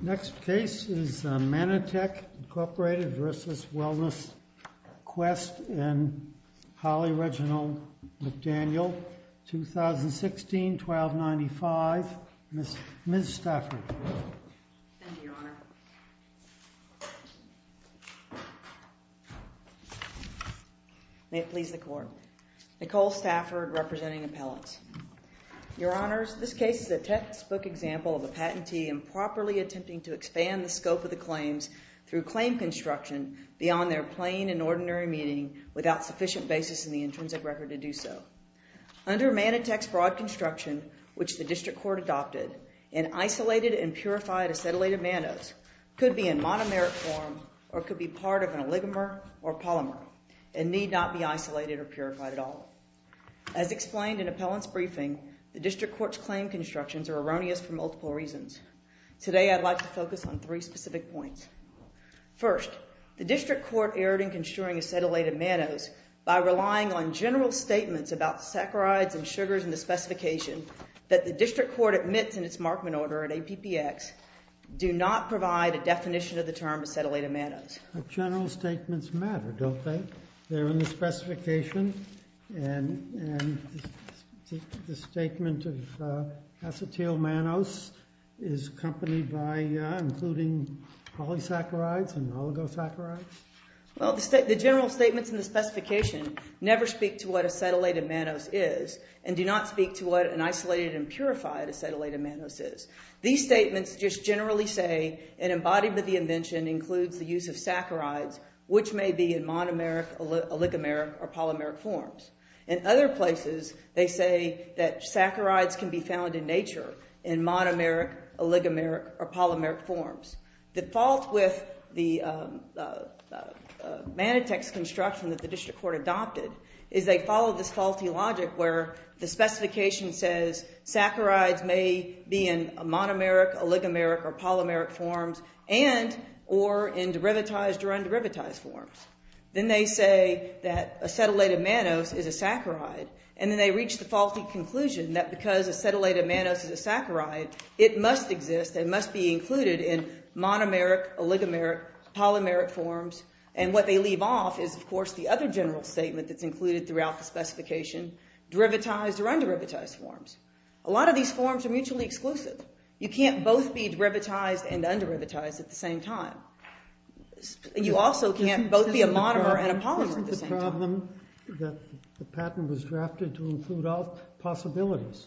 Next case is Manatech, Inc. v. Wellness Quest and Holly Reginald McDaniel, 2016, 1295, Ms. Stafford. Thank you, Your Honor. Nicole Stafford, representing appellants. Your Honors, this case is a textbook example of a patentee improperly attempting to expand the scope of the claims through claim construction beyond their plain and ordinary meaning without sufficient basis in the intrinsic record to do so. Under Manatech's broad construction, which the District Court adopted, an isolated and purified acetylated mannose could be in monomeric form or could be part of an oligomer or polymer and need not be isolated or purified at all. As explained in appellant's briefing, the District Court's claim constructions are erroneous for multiple reasons. Today, I'd like to focus on three specific points. First, the District Court erred in construing acetylated mannose by relying on general statements about saccharides and sugars in the specification that the District Court admits in its Markman order at APPX do not provide a definition of the term acetylated mannose. General statements matter, don't they? They're in the specification and the statement of acetyl mannose is accompanied by including polysaccharides and oligosaccharides. Well, the general statements in the specification never speak to what acetylated mannose is and do not speak to what an isolated and purified acetylated mannose is. These statements just generally say an embodiment of the invention includes the use of saccharides, which may be in monomeric, oligomeric, or polymeric forms. In other places, they say that saccharides can be found in nature in monomeric, oligomeric, or polymeric forms. The fault with the Manatex construction that the District Court adopted is they followed this faulty logic where the specification says saccharides may be in monomeric, oligomeric, or polymeric forms and or in derivatized or underivatized forms. Then they say that acetylated mannose is a saccharide and then they reach the faulty conclusion that because acetylated mannose is a saccharide, it must exist and must be included in monomeric, oligomeric, polymeric forms. And what they leave off is, of course, the other general statement that's included throughout the specification, derivatized or underivatized forms. A lot of these forms are mutually exclusive. You can't both be derivatized and underivatized at the same time. You also can't both be a monomer and a polymer at the same time. The problem that the patent was drafted to include all possibilities.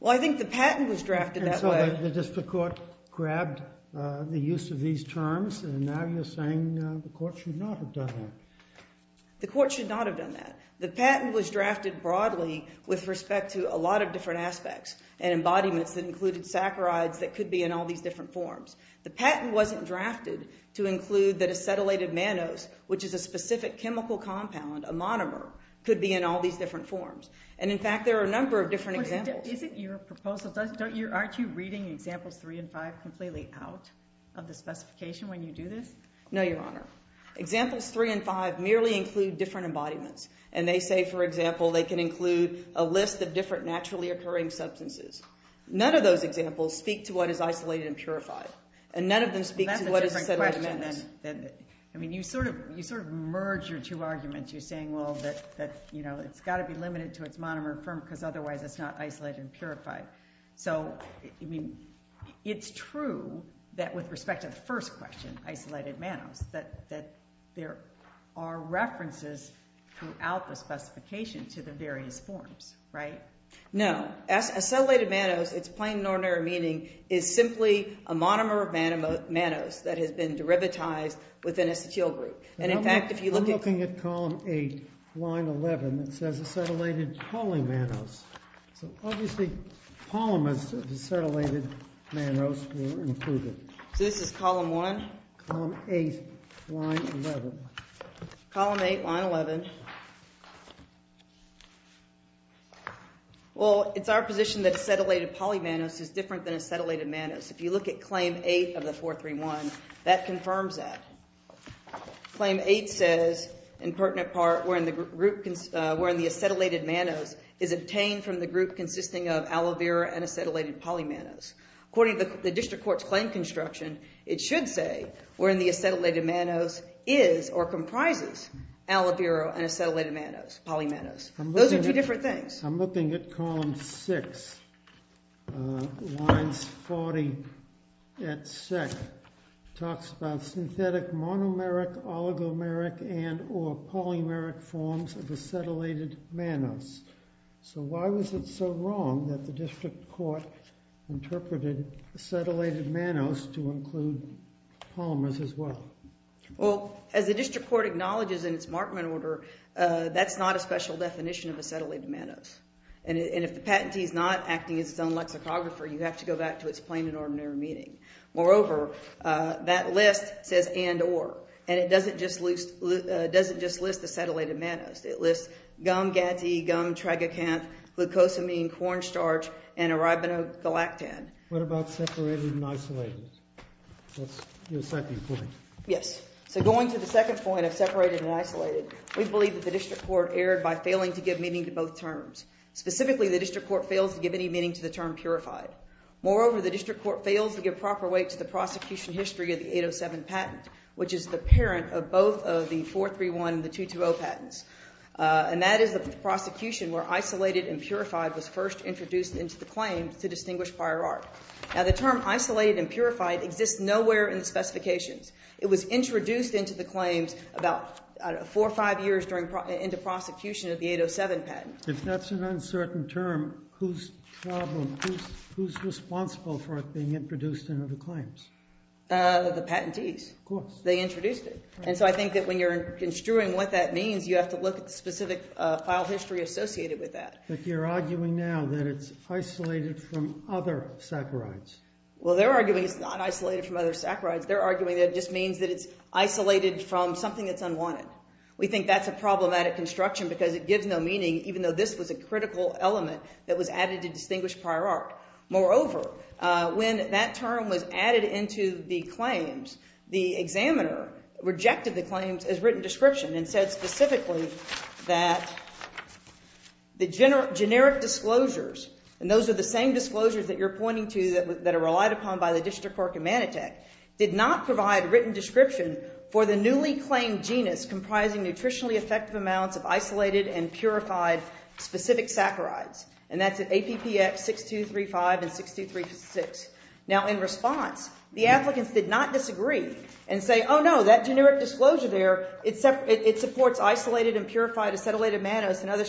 Well, I think the patent was drafted that way. And so the District Court grabbed the use of these terms and now you're saying the court should not have done that. The court should not have done that. The patent was drafted broadly with respect to a lot of different aspects and embodiments that included saccharides that could be in all these different forms. The patent wasn't drafted to include that acetylated mannose, which is a specific chemical compound, a monomer, could be in all these different forms. And, in fact, there are a number of different examples. Isn't your proposal – aren't you reading Examples 3 and 5 completely out of the specification when you do this? No, Your Honor. Examples 3 and 5 merely include different embodiments. And they say, for example, they can include a list of different naturally occurring substances. None of those examples speak to what is isolated and purified. And none of them speak to what is acetylated mannose. I mean, you sort of merge your two arguments. You're saying, well, that it's got to be limited to its monomer because otherwise it's not isolated and purified. So, I mean, it's true that with respect to the first question, isolated mannose, that there are references throughout the specification to the various forms, right? No. Acetylated mannose, its plain and ordinary meaning, is simply a monomer of mannose that has been derivatized within acetyl group. And, in fact, if you look at – I'm looking at Column 8, Line 11. It says acetylated polymannose. So, obviously, polymers of acetylated mannose were included. So, this is Column 1? Column 8, Line 11. Column 8, Line 11. Well, it's our position that acetylated polymannose is different than acetylated mannose. If you look at Claim 8 of the 431, that confirms that. Claim 8 says, in pertinent part, wherein the acetylated mannose is obtained from the group consisting of aloe vera and acetylated polymannose. According to the District Court's claim construction, it should say, wherein the acetylated mannose is or comprises aloe vera and acetylated mannose, polymannose. Those are two different things. I'm looking at Column 6, Lines 40 et sec. It talks about synthetic monomeric, oligomeric, and or polymeric forms of acetylated mannose. So, why was it so wrong that the District Court interpreted acetylated mannose to include polymers as well? Well, as the District Court acknowledges in its Markman order, that's not a special definition of acetylated mannose. And if the patentee is not acting as its own lexicographer, you have to go back to its plain and ordinary meaning. Moreover, that list says and or, and it doesn't just list acetylated mannose. It lists gum gatsy, gum tragacanth, glucosamine, cornstarch, and arabinogalactan. What about separated and isolated? That's your second point. Yes. So, going to the second point of separated and isolated, we believe that the District Court erred by failing to give meaning to both terms. Specifically, the District Court fails to give any meaning to the term purified. Moreover, the District Court fails to give proper weight to the prosecution history of the 807 patent, which is the parent of both of the 431 and the 220 patents. And that is the prosecution where isolated and purified was first introduced into the claim to distinguish prior art. Now, the term isolated and purified exists nowhere in the specifications. It was introduced into the claims about four or five years into prosecution of the 807 patent. If that's an uncertain term, who's responsible for it being introduced into the claims? The patentees. Of course. They introduced it. And so I think that when you're construing what that means, you have to look at the specific file history associated with that. But you're arguing now that it's isolated from other saccharides. Well, they're arguing it's not isolated from other saccharides. They're arguing that it just means that it's isolated from something that's unwanted. We think that's a problematic construction because it gives no meaning, even though this was a critical element that was added to distinguish prior art. Moreover, when that term was added into the claims, the examiner rejected the claims as written description and said specifically that the generic disclosures, and those are the same disclosures that you're pointing to that are relied upon by the district court in Manitech, did not provide written description for the newly claimed genus comprising nutritionally effective amounts of isolated and purified specific saccharides. And that's at APPX 6235 and 6236. Now, in response, the applicants did not disagree and say, oh, no, that generic disclosure there, it supports isolated and purified acetylated mannose and other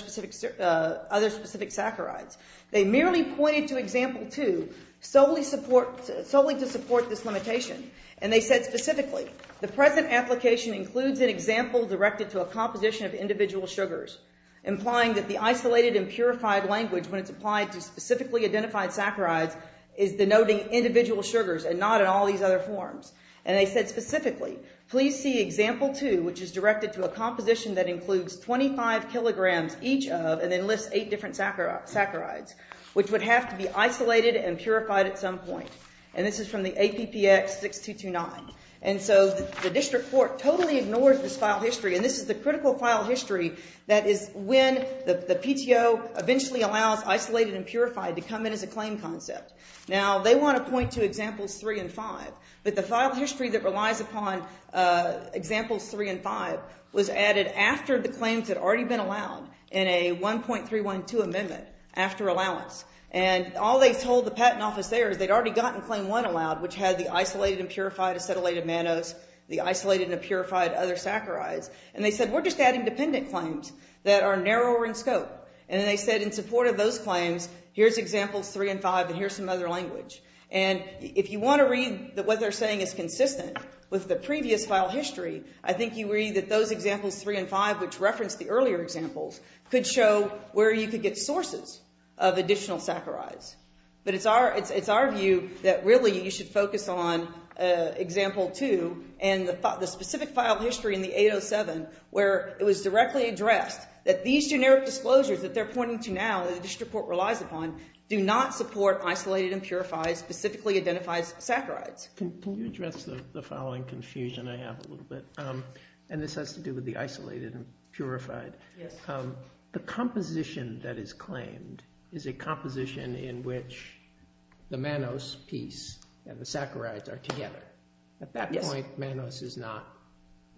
specific saccharides. They merely pointed to example two solely to support this limitation. And they said specifically, the present application includes an example directed to a composition of individual sugars, implying that the isolated and purified language when it's applied to specifically identified saccharides is denoting individual sugars and not in all these other forms. And they said specifically, please see example two, which is directed to a composition that includes 25 kilograms each of, and then lists eight different saccharides, which would have to be isolated and purified at some point. And this is from the APPX 6229. And so the district court totally ignored this file history. And this is the critical file history that is when the PTO eventually allows isolated and purified to come in as a claim concept. Now, they want to point to examples three and five. But the file history that relies upon examples three and five was added after the claims had already been allowed in a 1.312 amendment after allowance. And all they told the patent office there is they'd already gotten claim one allowed, which had the isolated and purified acetylated mannose, the isolated and purified other saccharides. And they said we're just adding dependent claims that are narrower in scope. And then they said in support of those claims, here's examples three and five, and here's some other language. And if you want to read what they're saying is consistent with the previous file history, I think you read that those examples three and five, which referenced the earlier examples, could show where you could get sources of additional saccharides. But it's our view that really you should focus on example two and the specific file history in the 807, where it was directly addressed that these generic disclosures that they're pointing to now, that the district court relies upon, do not support isolated and purified specifically identified saccharides. Can you address the following confusion I have a little bit? And this has to do with the isolated and purified. The composition that is claimed is a composition in which the mannose piece and the saccharides are together. At that point, mannose is not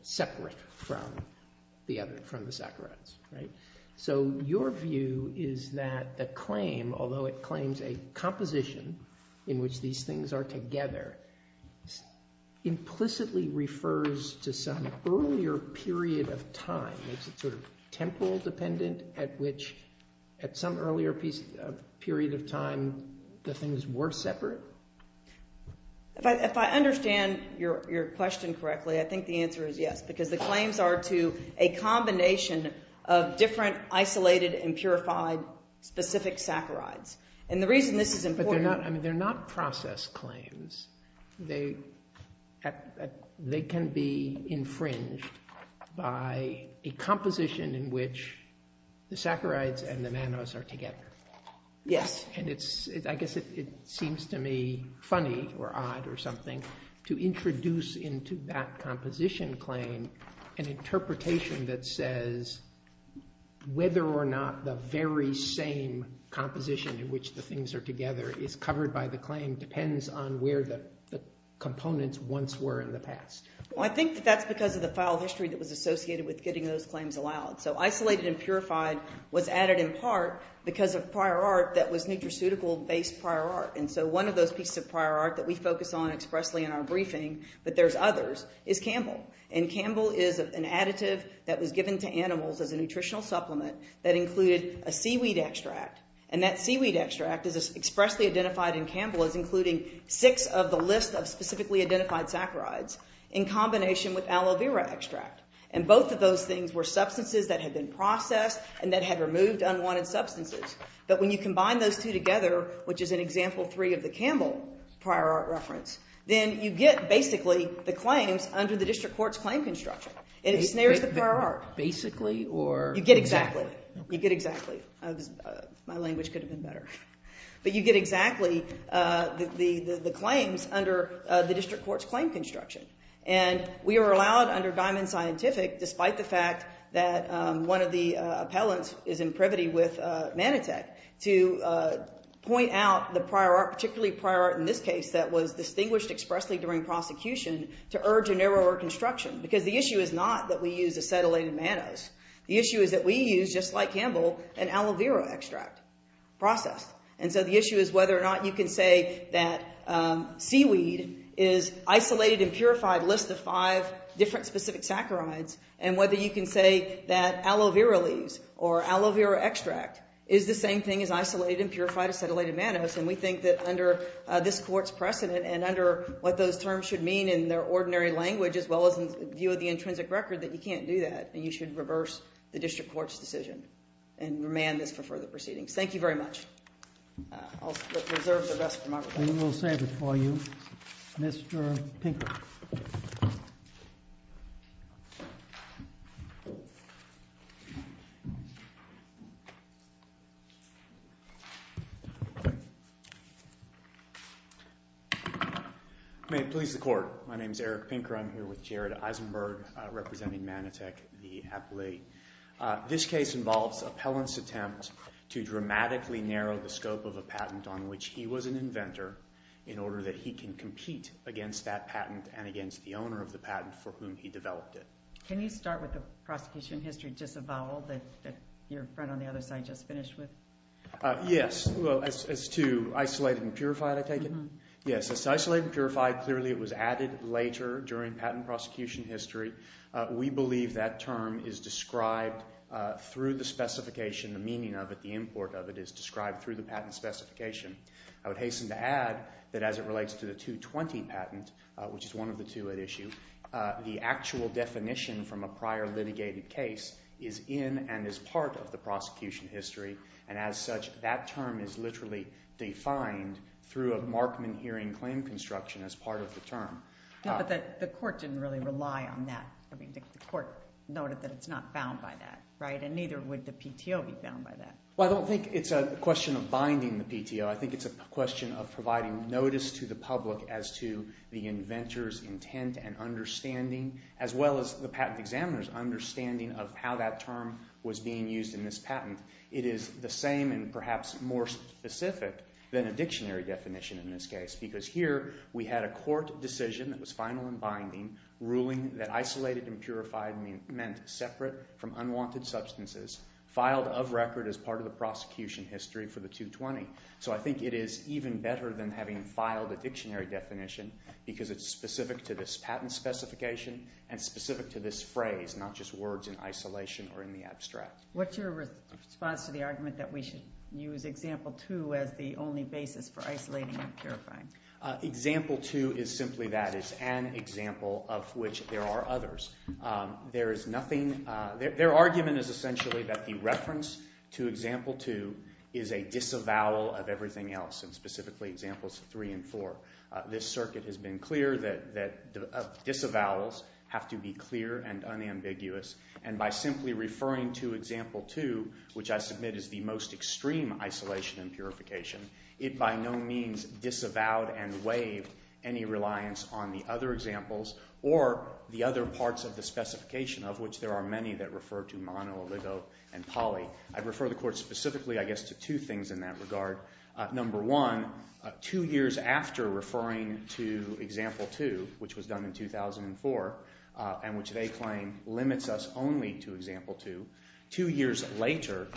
separate from the saccharides. So your view is that the claim, although it claims a composition in which these things are together, implicitly refers to some earlier period of time. Is it sort of temporal dependent at which at some earlier period of time the things were separate? If I understand your question correctly, I think the answer is yes. Because the claims are to a combination of different isolated and purified specific saccharides. And the reason this is important- But they're not process claims. They can be infringed by a composition in which the saccharides and the mannose are together. Yes. And I guess it seems to me funny or odd or something to introduce into that composition claim an interpretation that says whether or not the very same composition in which the things are together is covered by the claim depends on where the components once were in the past. Well, I think that that's because of the file history that was associated with getting those claims allowed. So isolated and purified was added in part because of prior art that was nutraceutical-based prior art. And so one of those pieces of prior art that we focus on expressly in our briefing, but there's others, is Campbell. And Campbell is an additive that was given to animals as a nutritional supplement that included a seaweed extract. And that seaweed extract is expressly identified in Campbell as including six of the list of specifically identified saccharides in combination with aloe vera extract. And both of those things were substances that had been processed and that had removed unwanted substances. But when you combine those two together, which is in Example 3 of the Campbell prior art reference, then you get basically the claims under the district court's claim construction. And it snares the prior art. Basically or exactly? You get exactly. You get exactly. My language could have been better. But you get exactly the claims under the district court's claim construction. And we are allowed under Diamond Scientific, despite the fact that one of the appellants is in privity with Manatech, to point out the prior art, particularly prior art in this case that was distinguished expressly during prosecution, to urge a narrower construction. Because the issue is not that we use acetylated mannose. The issue is that we use, just like Campbell, an aloe vera extract process. And so the issue is whether or not you can say that seaweed is isolated and purified, a list of five different specific saccharides, and whether you can say that aloe vera leaves or aloe vera extract is the same thing as isolated and purified acetylated mannose. And we think that under this court's precedent and under what those terms should mean in their ordinary language, as well as in view of the intrinsic record, that you can't do that. And you should reverse the district court's decision and remand this for further proceedings. Thank you very much. I'll reserve the rest for Margaret. We will save it for you. Mr. Pinker. May it please the court. My name is Eric Pinker. I'm here with Jared Eisenberg representing Manatech, the appellate. This case involves appellant's attempt to dramatically narrow the scope of a patent on which he was an inventor in order that he can compete against that patent and against the owner of the patent for whom he developed it. Can you start with the prosecution history disavowal that your friend on the other side just finished with? Yes. As to isolated and purified, I take it? Yes. As to isolated and purified, clearly it was added later during patent prosecution history. We believe that term is described through the specification, the meaning of it, the import of it is described through the patent specification. I would hasten to add that as it relates to the 220 patent, which is one of the two at issue, the actual definition from a prior litigated case is in and is part of the prosecution history. And as such, that term is literally defined through a Markman hearing claim construction as part of the term. But the court didn't really rely on that. The court noted that it's not bound by that, right? And neither would the PTO be bound by that. Well, I don't think it's a question of binding the PTO. I think it's a question of providing notice to the public as to the inventor's intent and understanding as well as the patent examiner's understanding of how that term was being used in this patent. It is the same and perhaps more specific than a dictionary definition in this case because here we had a court decision that was final and binding, ruling that isolated and purified meant separate from unwanted substances, filed of record as part of the prosecution history for the 220. So I think it is even better than having filed a dictionary definition because it's specific to this patent specification and specific to this phrase, not just words in isolation or in the abstract. What's your response to the argument that we should use Example 2 as the only basis for isolating and purifying? Example 2 is simply that. It's an example of which there are others. There is nothing—their argument is essentially that the reference to Example 2 is a disavowal of everything else and specifically Examples 3 and 4. This circuit has been clear that disavowals have to be clear and unambiguous. And by simply referring to Example 2, which I submit is the most extreme isolation and purification, it by no means disavowed and waived any reliance on the other examples or the other parts of the specification of which there are many that refer to mono, oligo, and poly. I'd refer the court specifically, I guess, to two things in that regard. Number one, two years after referring to Example 2, which was done in 2004 and which they claim limits us only to Example 2, two years later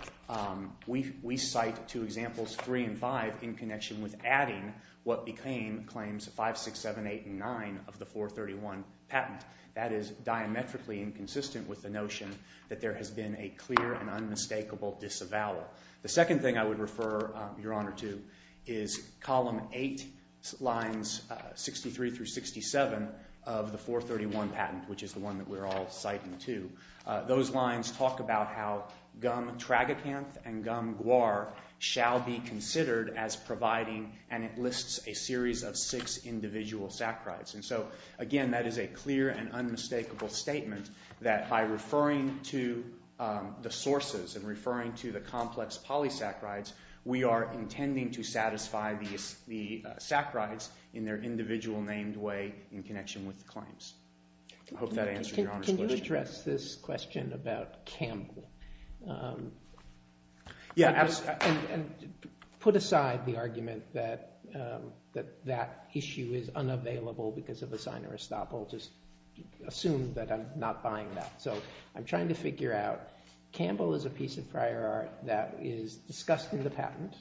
we cite to Examples 3 and 5 in connection with adding what became Claims 5, 6, 7, 8, and 9 of the 431 patent. That is diametrically inconsistent with the notion that there has been a clear and unmistakable disavowal. The second thing I would refer Your Honor to is Column 8, Lines 63 through 67 of the 431 patent, which is the one that we're all citing to. Those lines talk about how gum tragacanth and gum guar shall be considered as providing and it lists a series of six individual saccharides. And so, again, that is a clear and unmistakable statement that by referring to the sources and referring to the complex polysaccharides, we are intending to satisfy the saccharides in their individual named way in connection with the claims. I hope that answers Your Honor's question. Can you address this question about Campbell? Yeah, absolutely. And put aside the argument that that issue is unavailable because of a sign or estoppel. Just assume that I'm not buying that. So I'm trying to figure out, Campbell is a piece of prior art that is discussed in the patent.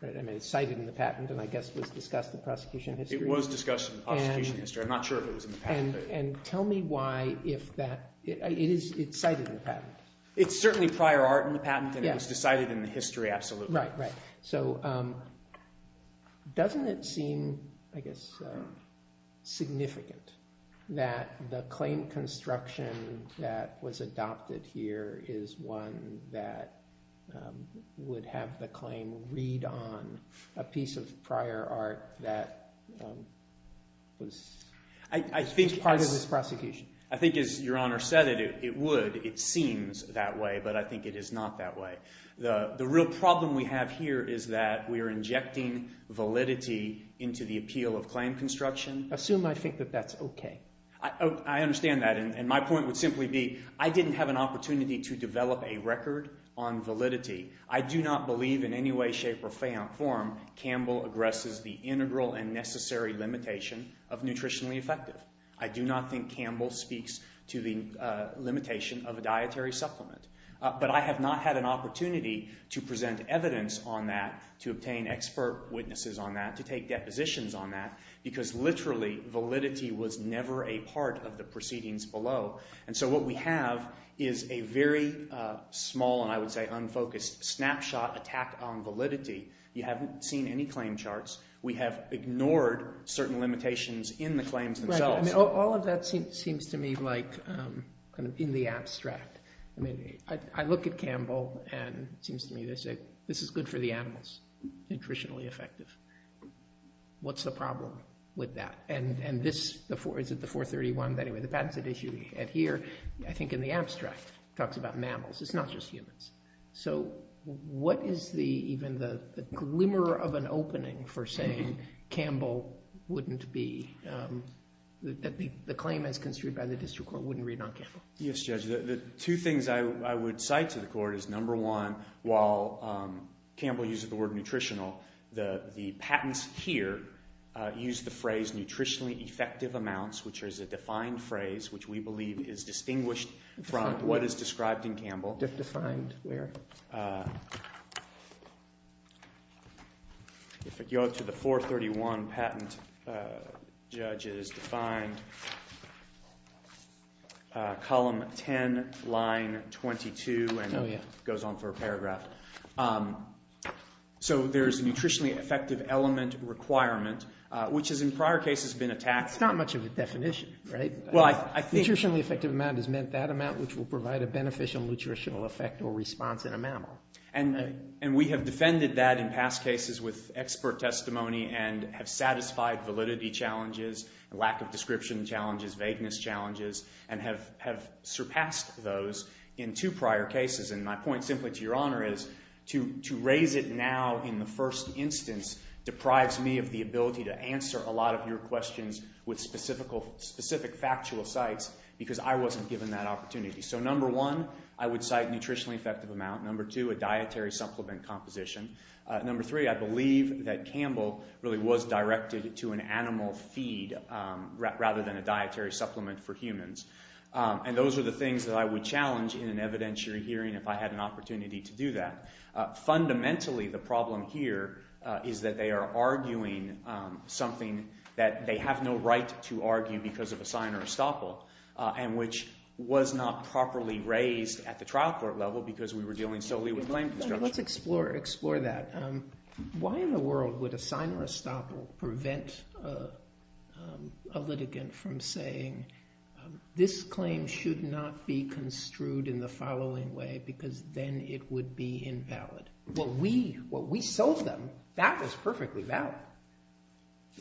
I mean it's cited in the patent and I guess it was discussed in the prosecution history. It was discussed in the prosecution history. I'm not sure if it was in the patent. And tell me why if that – it's cited in the patent. It's certainly prior art in the patent and it was decided in the history absolutely. Right, right. So doesn't it seem, I guess, significant that the claim construction that was adopted here is one that would have the claim read on a piece of prior art that was part of this prosecution? I think as Your Honor said it, it would. It seems that way, but I think it is not that way. The real problem we have here is that we are injecting validity into the appeal of claim construction. Assume I think that that's okay. I understand that. And my point would simply be I didn't have an opportunity to develop a record on validity. I do not believe in any way, shape, or form Campbell aggresses the integral and necessary limitation of nutritionally effective. I do not think Campbell speaks to the limitation of a dietary supplement. But I have not had an opportunity to present evidence on that, to obtain expert witnesses on that, to take depositions on that because literally validity was never a part of the proceedings below. And so what we have is a very small and I would say unfocused snapshot attack on validity. You haven't seen any claim charts. We have ignored certain limitations in the claims themselves. All of that seems to me like in the abstract. I look at Campbell and it seems to me this is good for the animals, nutritionally effective. What's the problem with that? And this, is it the 431? Anyway, the patents that issue at here, I think in the abstract, talks about mammals. It's not just humans. So what is even the glimmer of an opening for saying Campbell wouldn't be, that the claim as construed by the district court wouldn't read on Campbell? Yes, Judge. The two things I would cite to the court is number one, while Campbell uses the word nutritional, the patents here use the phrase nutritionally effective amounts, which is a defined phrase, defined where? If I go to the 431 patent, Judge, it is defined column 10, line 22, and it goes on for a paragraph. So there is a nutritionally effective element requirement, which has in prior cases been attacked. It's not much of a definition, right? Nutritionally effective amount has meant that amount, which will provide a beneficial nutritional effect or response in a mammal. And we have defended that in past cases with expert testimony and have satisfied validity challenges, lack of description challenges, vagueness challenges, and have surpassed those in two prior cases. And my point simply to Your Honor is to raise it now in the first instance deprives me of the ability to answer a lot of your questions with specific factual sites because I wasn't given that opportunity. So number one, I would cite nutritionally effective amount. Number two, a dietary supplement composition. Number three, I believe that Campbell really was directed to an animal feed rather than a dietary supplement for humans. And those are the things that I would challenge in an evidentiary hearing if I had an opportunity to do that. Fundamentally, the problem here is that they are arguing something that they have no right to argue because of a sign or estoppel and which was not properly raised at the trial court level because we were dealing solely with claim construction. Let's explore that. Why in the world would a sign or estoppel prevent a litigant from saying, this claim should not be construed in the following way because then it would be invalid? Well, we sold them. That was perfectly valid.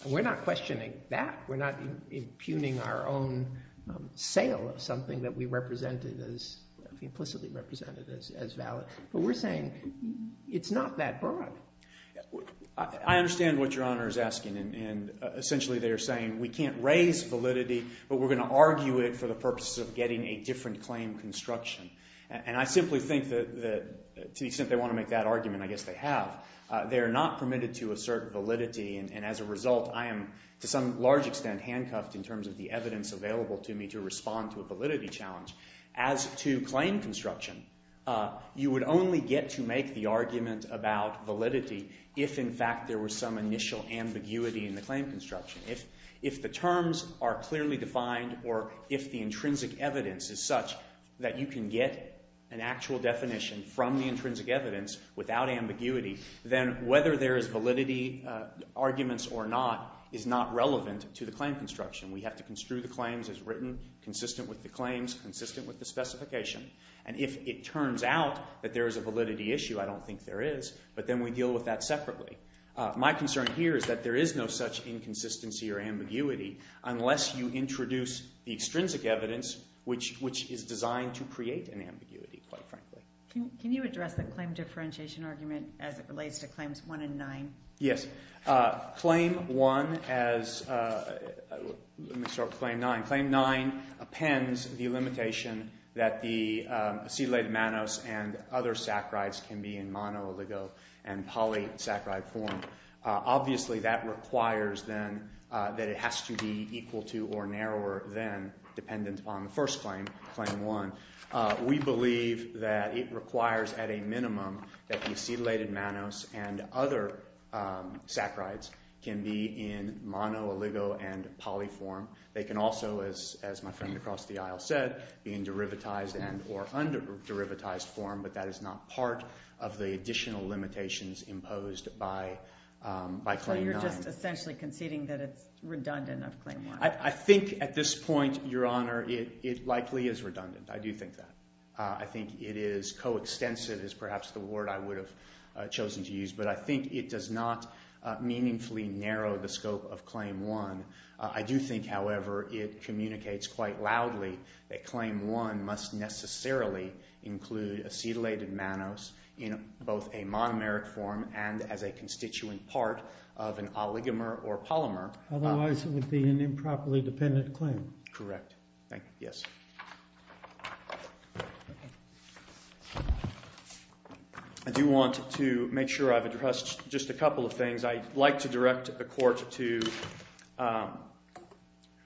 We're not questioning that. We're not impugning our own sale of something that we represented as implicitly represented as valid. But we're saying it's not that broad. I understand what Your Honor is asking, and essentially they're saying we can't raise validity, but we're going to argue it for the purpose of getting a different claim construction. And I simply think that to the extent they want to make that argument, I guess they have. They are not permitted to assert validity, and as a result, I am to some large extent handcuffed in terms of the evidence available to me to respond to a validity challenge. As to claim construction, you would only get to make the argument about validity if, in fact, there was some initial ambiguity in the claim construction. If the terms are clearly defined or if the intrinsic evidence is such that you can get an actual definition from the intrinsic evidence without ambiguity, then whether there is validity arguments or not is not relevant to the claim construction. We have to construe the claims as written, consistent with the claims, consistent with the specification. And if it turns out that there is a validity issue, I don't think there is, but then we deal with that separately. My concern here is that there is no such inconsistency or ambiguity unless you introduce the extrinsic evidence, which is designed to create an ambiguity, quite frankly. Can you address the claim differentiation argument as it relates to claims 1 and 9? Yes. Claim 1 as... let me start with claim 9. Claim 9 appends the limitation that the acetylated mannose and other saccharides can be in mono, oligo, and poly saccharide form. Obviously that requires then that it has to be equal to or narrower than, dependent upon the first claim, claim 1. We believe that it requires at a minimum that the acetylated mannose and other saccharides can be in mono, oligo, and poly form. They can also, as my friend across the aisle said, be in derivatized and or under-derivatized form, but that is not part of the additional limitations imposed by claim 9. So you're just essentially conceding that it's redundant of claim 1. I think at this point, Your Honor, it likely is redundant. I do think that. I think it is coextensive is perhaps the word I would have chosen to use, but I think it does not meaningfully narrow the scope of claim 1. I do think, however, it communicates quite loudly that claim 1 must necessarily include acetylated mannose in both a monomeric form and as a constituent part of an oligomer or polymer. Otherwise it would be an improperly dependent claim. Correct. Thank you. I do want to make sure I've addressed just a couple of things. I'd like to direct the court to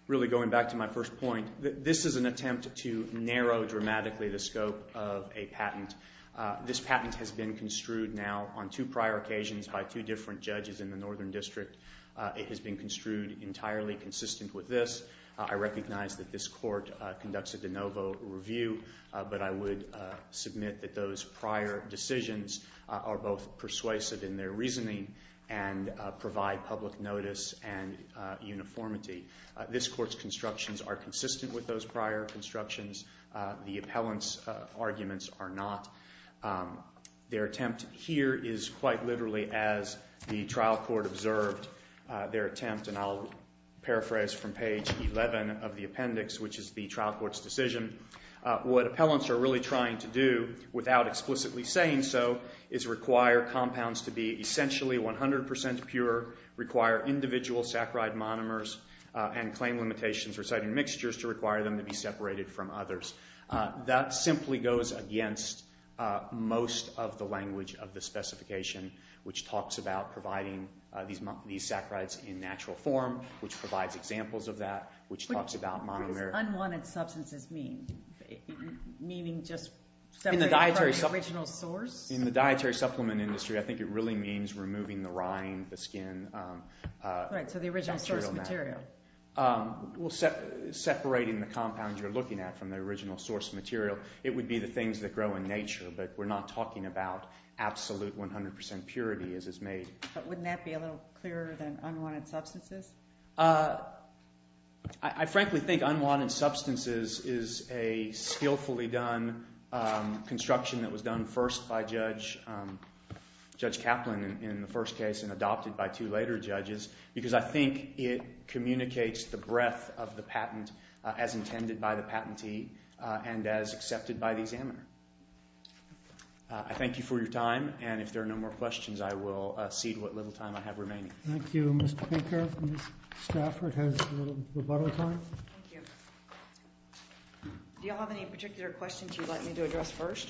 really going back to my first point. This is an attempt to narrow dramatically the scope of a patent. This patent has been construed now on two prior occasions by two different judges in the Northern District. It has been construed entirely consistent with this. I recognize that this court conducts a de novo review, but I would submit that those prior decisions are both persuasive in their reasoning and provide public notice and uniformity. This court's constructions are consistent with those prior constructions. The appellant's arguments are not. Their attempt here is quite literally as the trial court observed their attempt, and I'll paraphrase from page 11 of the appendix, which is the trial court's decision. What appellants are really trying to do without explicitly saying so is require compounds to be essentially 100% pure, require individual saccharide monomers, and claim limitations reciting mixtures to require them to be separated from others. That simply goes against most of the language of the specification, which talks about providing these saccharides in natural form, which provides examples of that, which talks about monomers. What do unwanted substances mean? Meaning just separating from the original source? In the dietary supplement industry, I think it really means removing the rind, the skin. Right, so the original source material. Separating the compounds you're looking at from the original source material. It would be the things that grow in nature, but we're not talking about absolute 100% purity as is made. But wouldn't that be a little clearer than unwanted substances? I frankly think unwanted substances is a skillfully done construction that was done first by Judge Kaplan in the first case and adopted by two later judges because I think it communicates the breadth of the patent as intended by the patentee and as accepted by the examiner. I thank you for your time, and if there are no more questions, I will cede what little time I have remaining. Thank you, Mr. Pinker. Ms. Stafford has a little rebuttal time. Thank you. Do you all have any particular questions you'd like me to address first?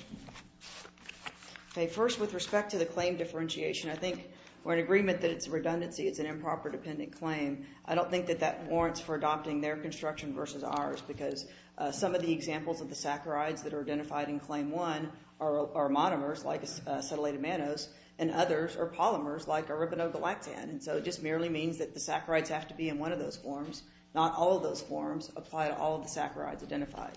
First, with respect to the claim differentiation, I think we're in agreement that it's a redundancy. It's an improper dependent claim. I don't think that that warrants for adopting their construction versus ours because some of the examples of the saccharides that are identified in Claim 1 are monomers, like acetylated mannose, and others are polymers, like a ribonogalactan, and so it just merely means that the saccharides have to be in one of those forms, not all of those forms apply to all of the saccharides identified.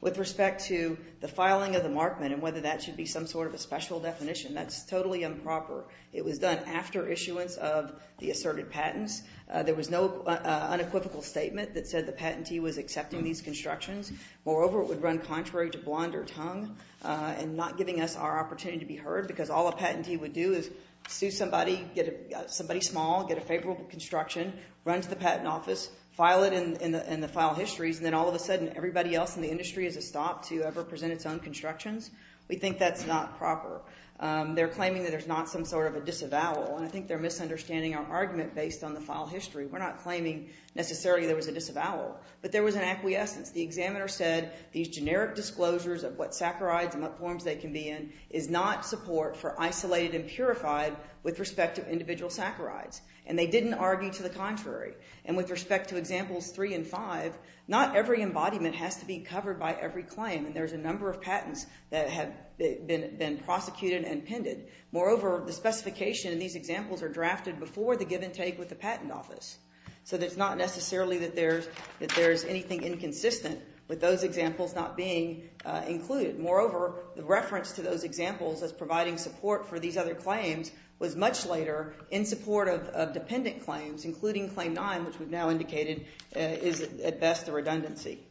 With respect to the filing of the markment and whether that should be some sort of a special definition, that's totally improper. It was done after issuance of the asserted patents. There was no unequivocal statement that said the patentee was accepting these constructions. and not giving us our opportunity to be heard because all a patentee would do is sue somebody, get somebody small, get a favorable construction, run to the patent office, file it in the file histories, and then all of a sudden everybody else in the industry has to stop to ever present its own constructions. We think that's not proper. They're claiming that there's not some sort of a disavowal, and I think they're misunderstanding our argument based on the file history. We're not claiming necessarily there was a disavowal, but there was an acquiescence. The examiner said these generic disclosures of what saccharides and what forms they can be in is not support for isolated and purified with respect to individual saccharides, and they didn't argue to the contrary. And with respect to examples 3 and 5, not every embodiment has to be covered by every claim, and there's a number of patents that have been prosecuted and appended. Moreover, the specification in these examples are drafted before the give and take with the patent office, so it's not necessarily that there's anything inconsistent with those examples not being included. Moreover, the reference to those examples as providing support for these other claims was much later in support of dependent claims, including Claim 9, which we've now indicated is at best a redundancy.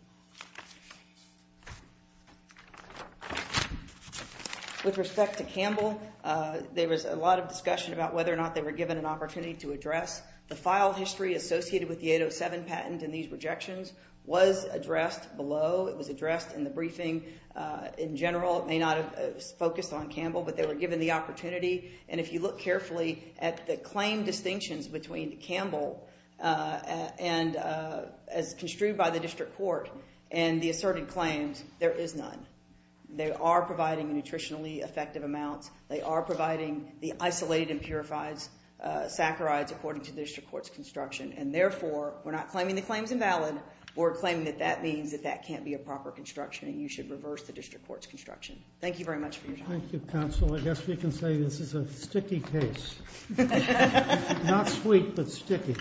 With respect to Campbell, there was a lot of discussion about whether or not they were given an opportunity to address. The file history associated with the 807 patent and these rejections was addressed below. It was addressed in the briefing. In general, it may not have focused on Campbell, but they were given the opportunity. And if you look carefully at the claim distinctions between Campbell and as construed by the district court and the asserted claims, there is none. They are providing nutritionally effective amounts. They are providing the isolated and purified saccharides according to the district court's construction. And therefore, we're not claiming the claim's invalid. We're claiming that that means that that can't be a proper construction and you should reverse the district court's construction. Thank you very much for your time. Thank you, counsel. I guess we can say this is a sticky case. Not sweet, but sticky.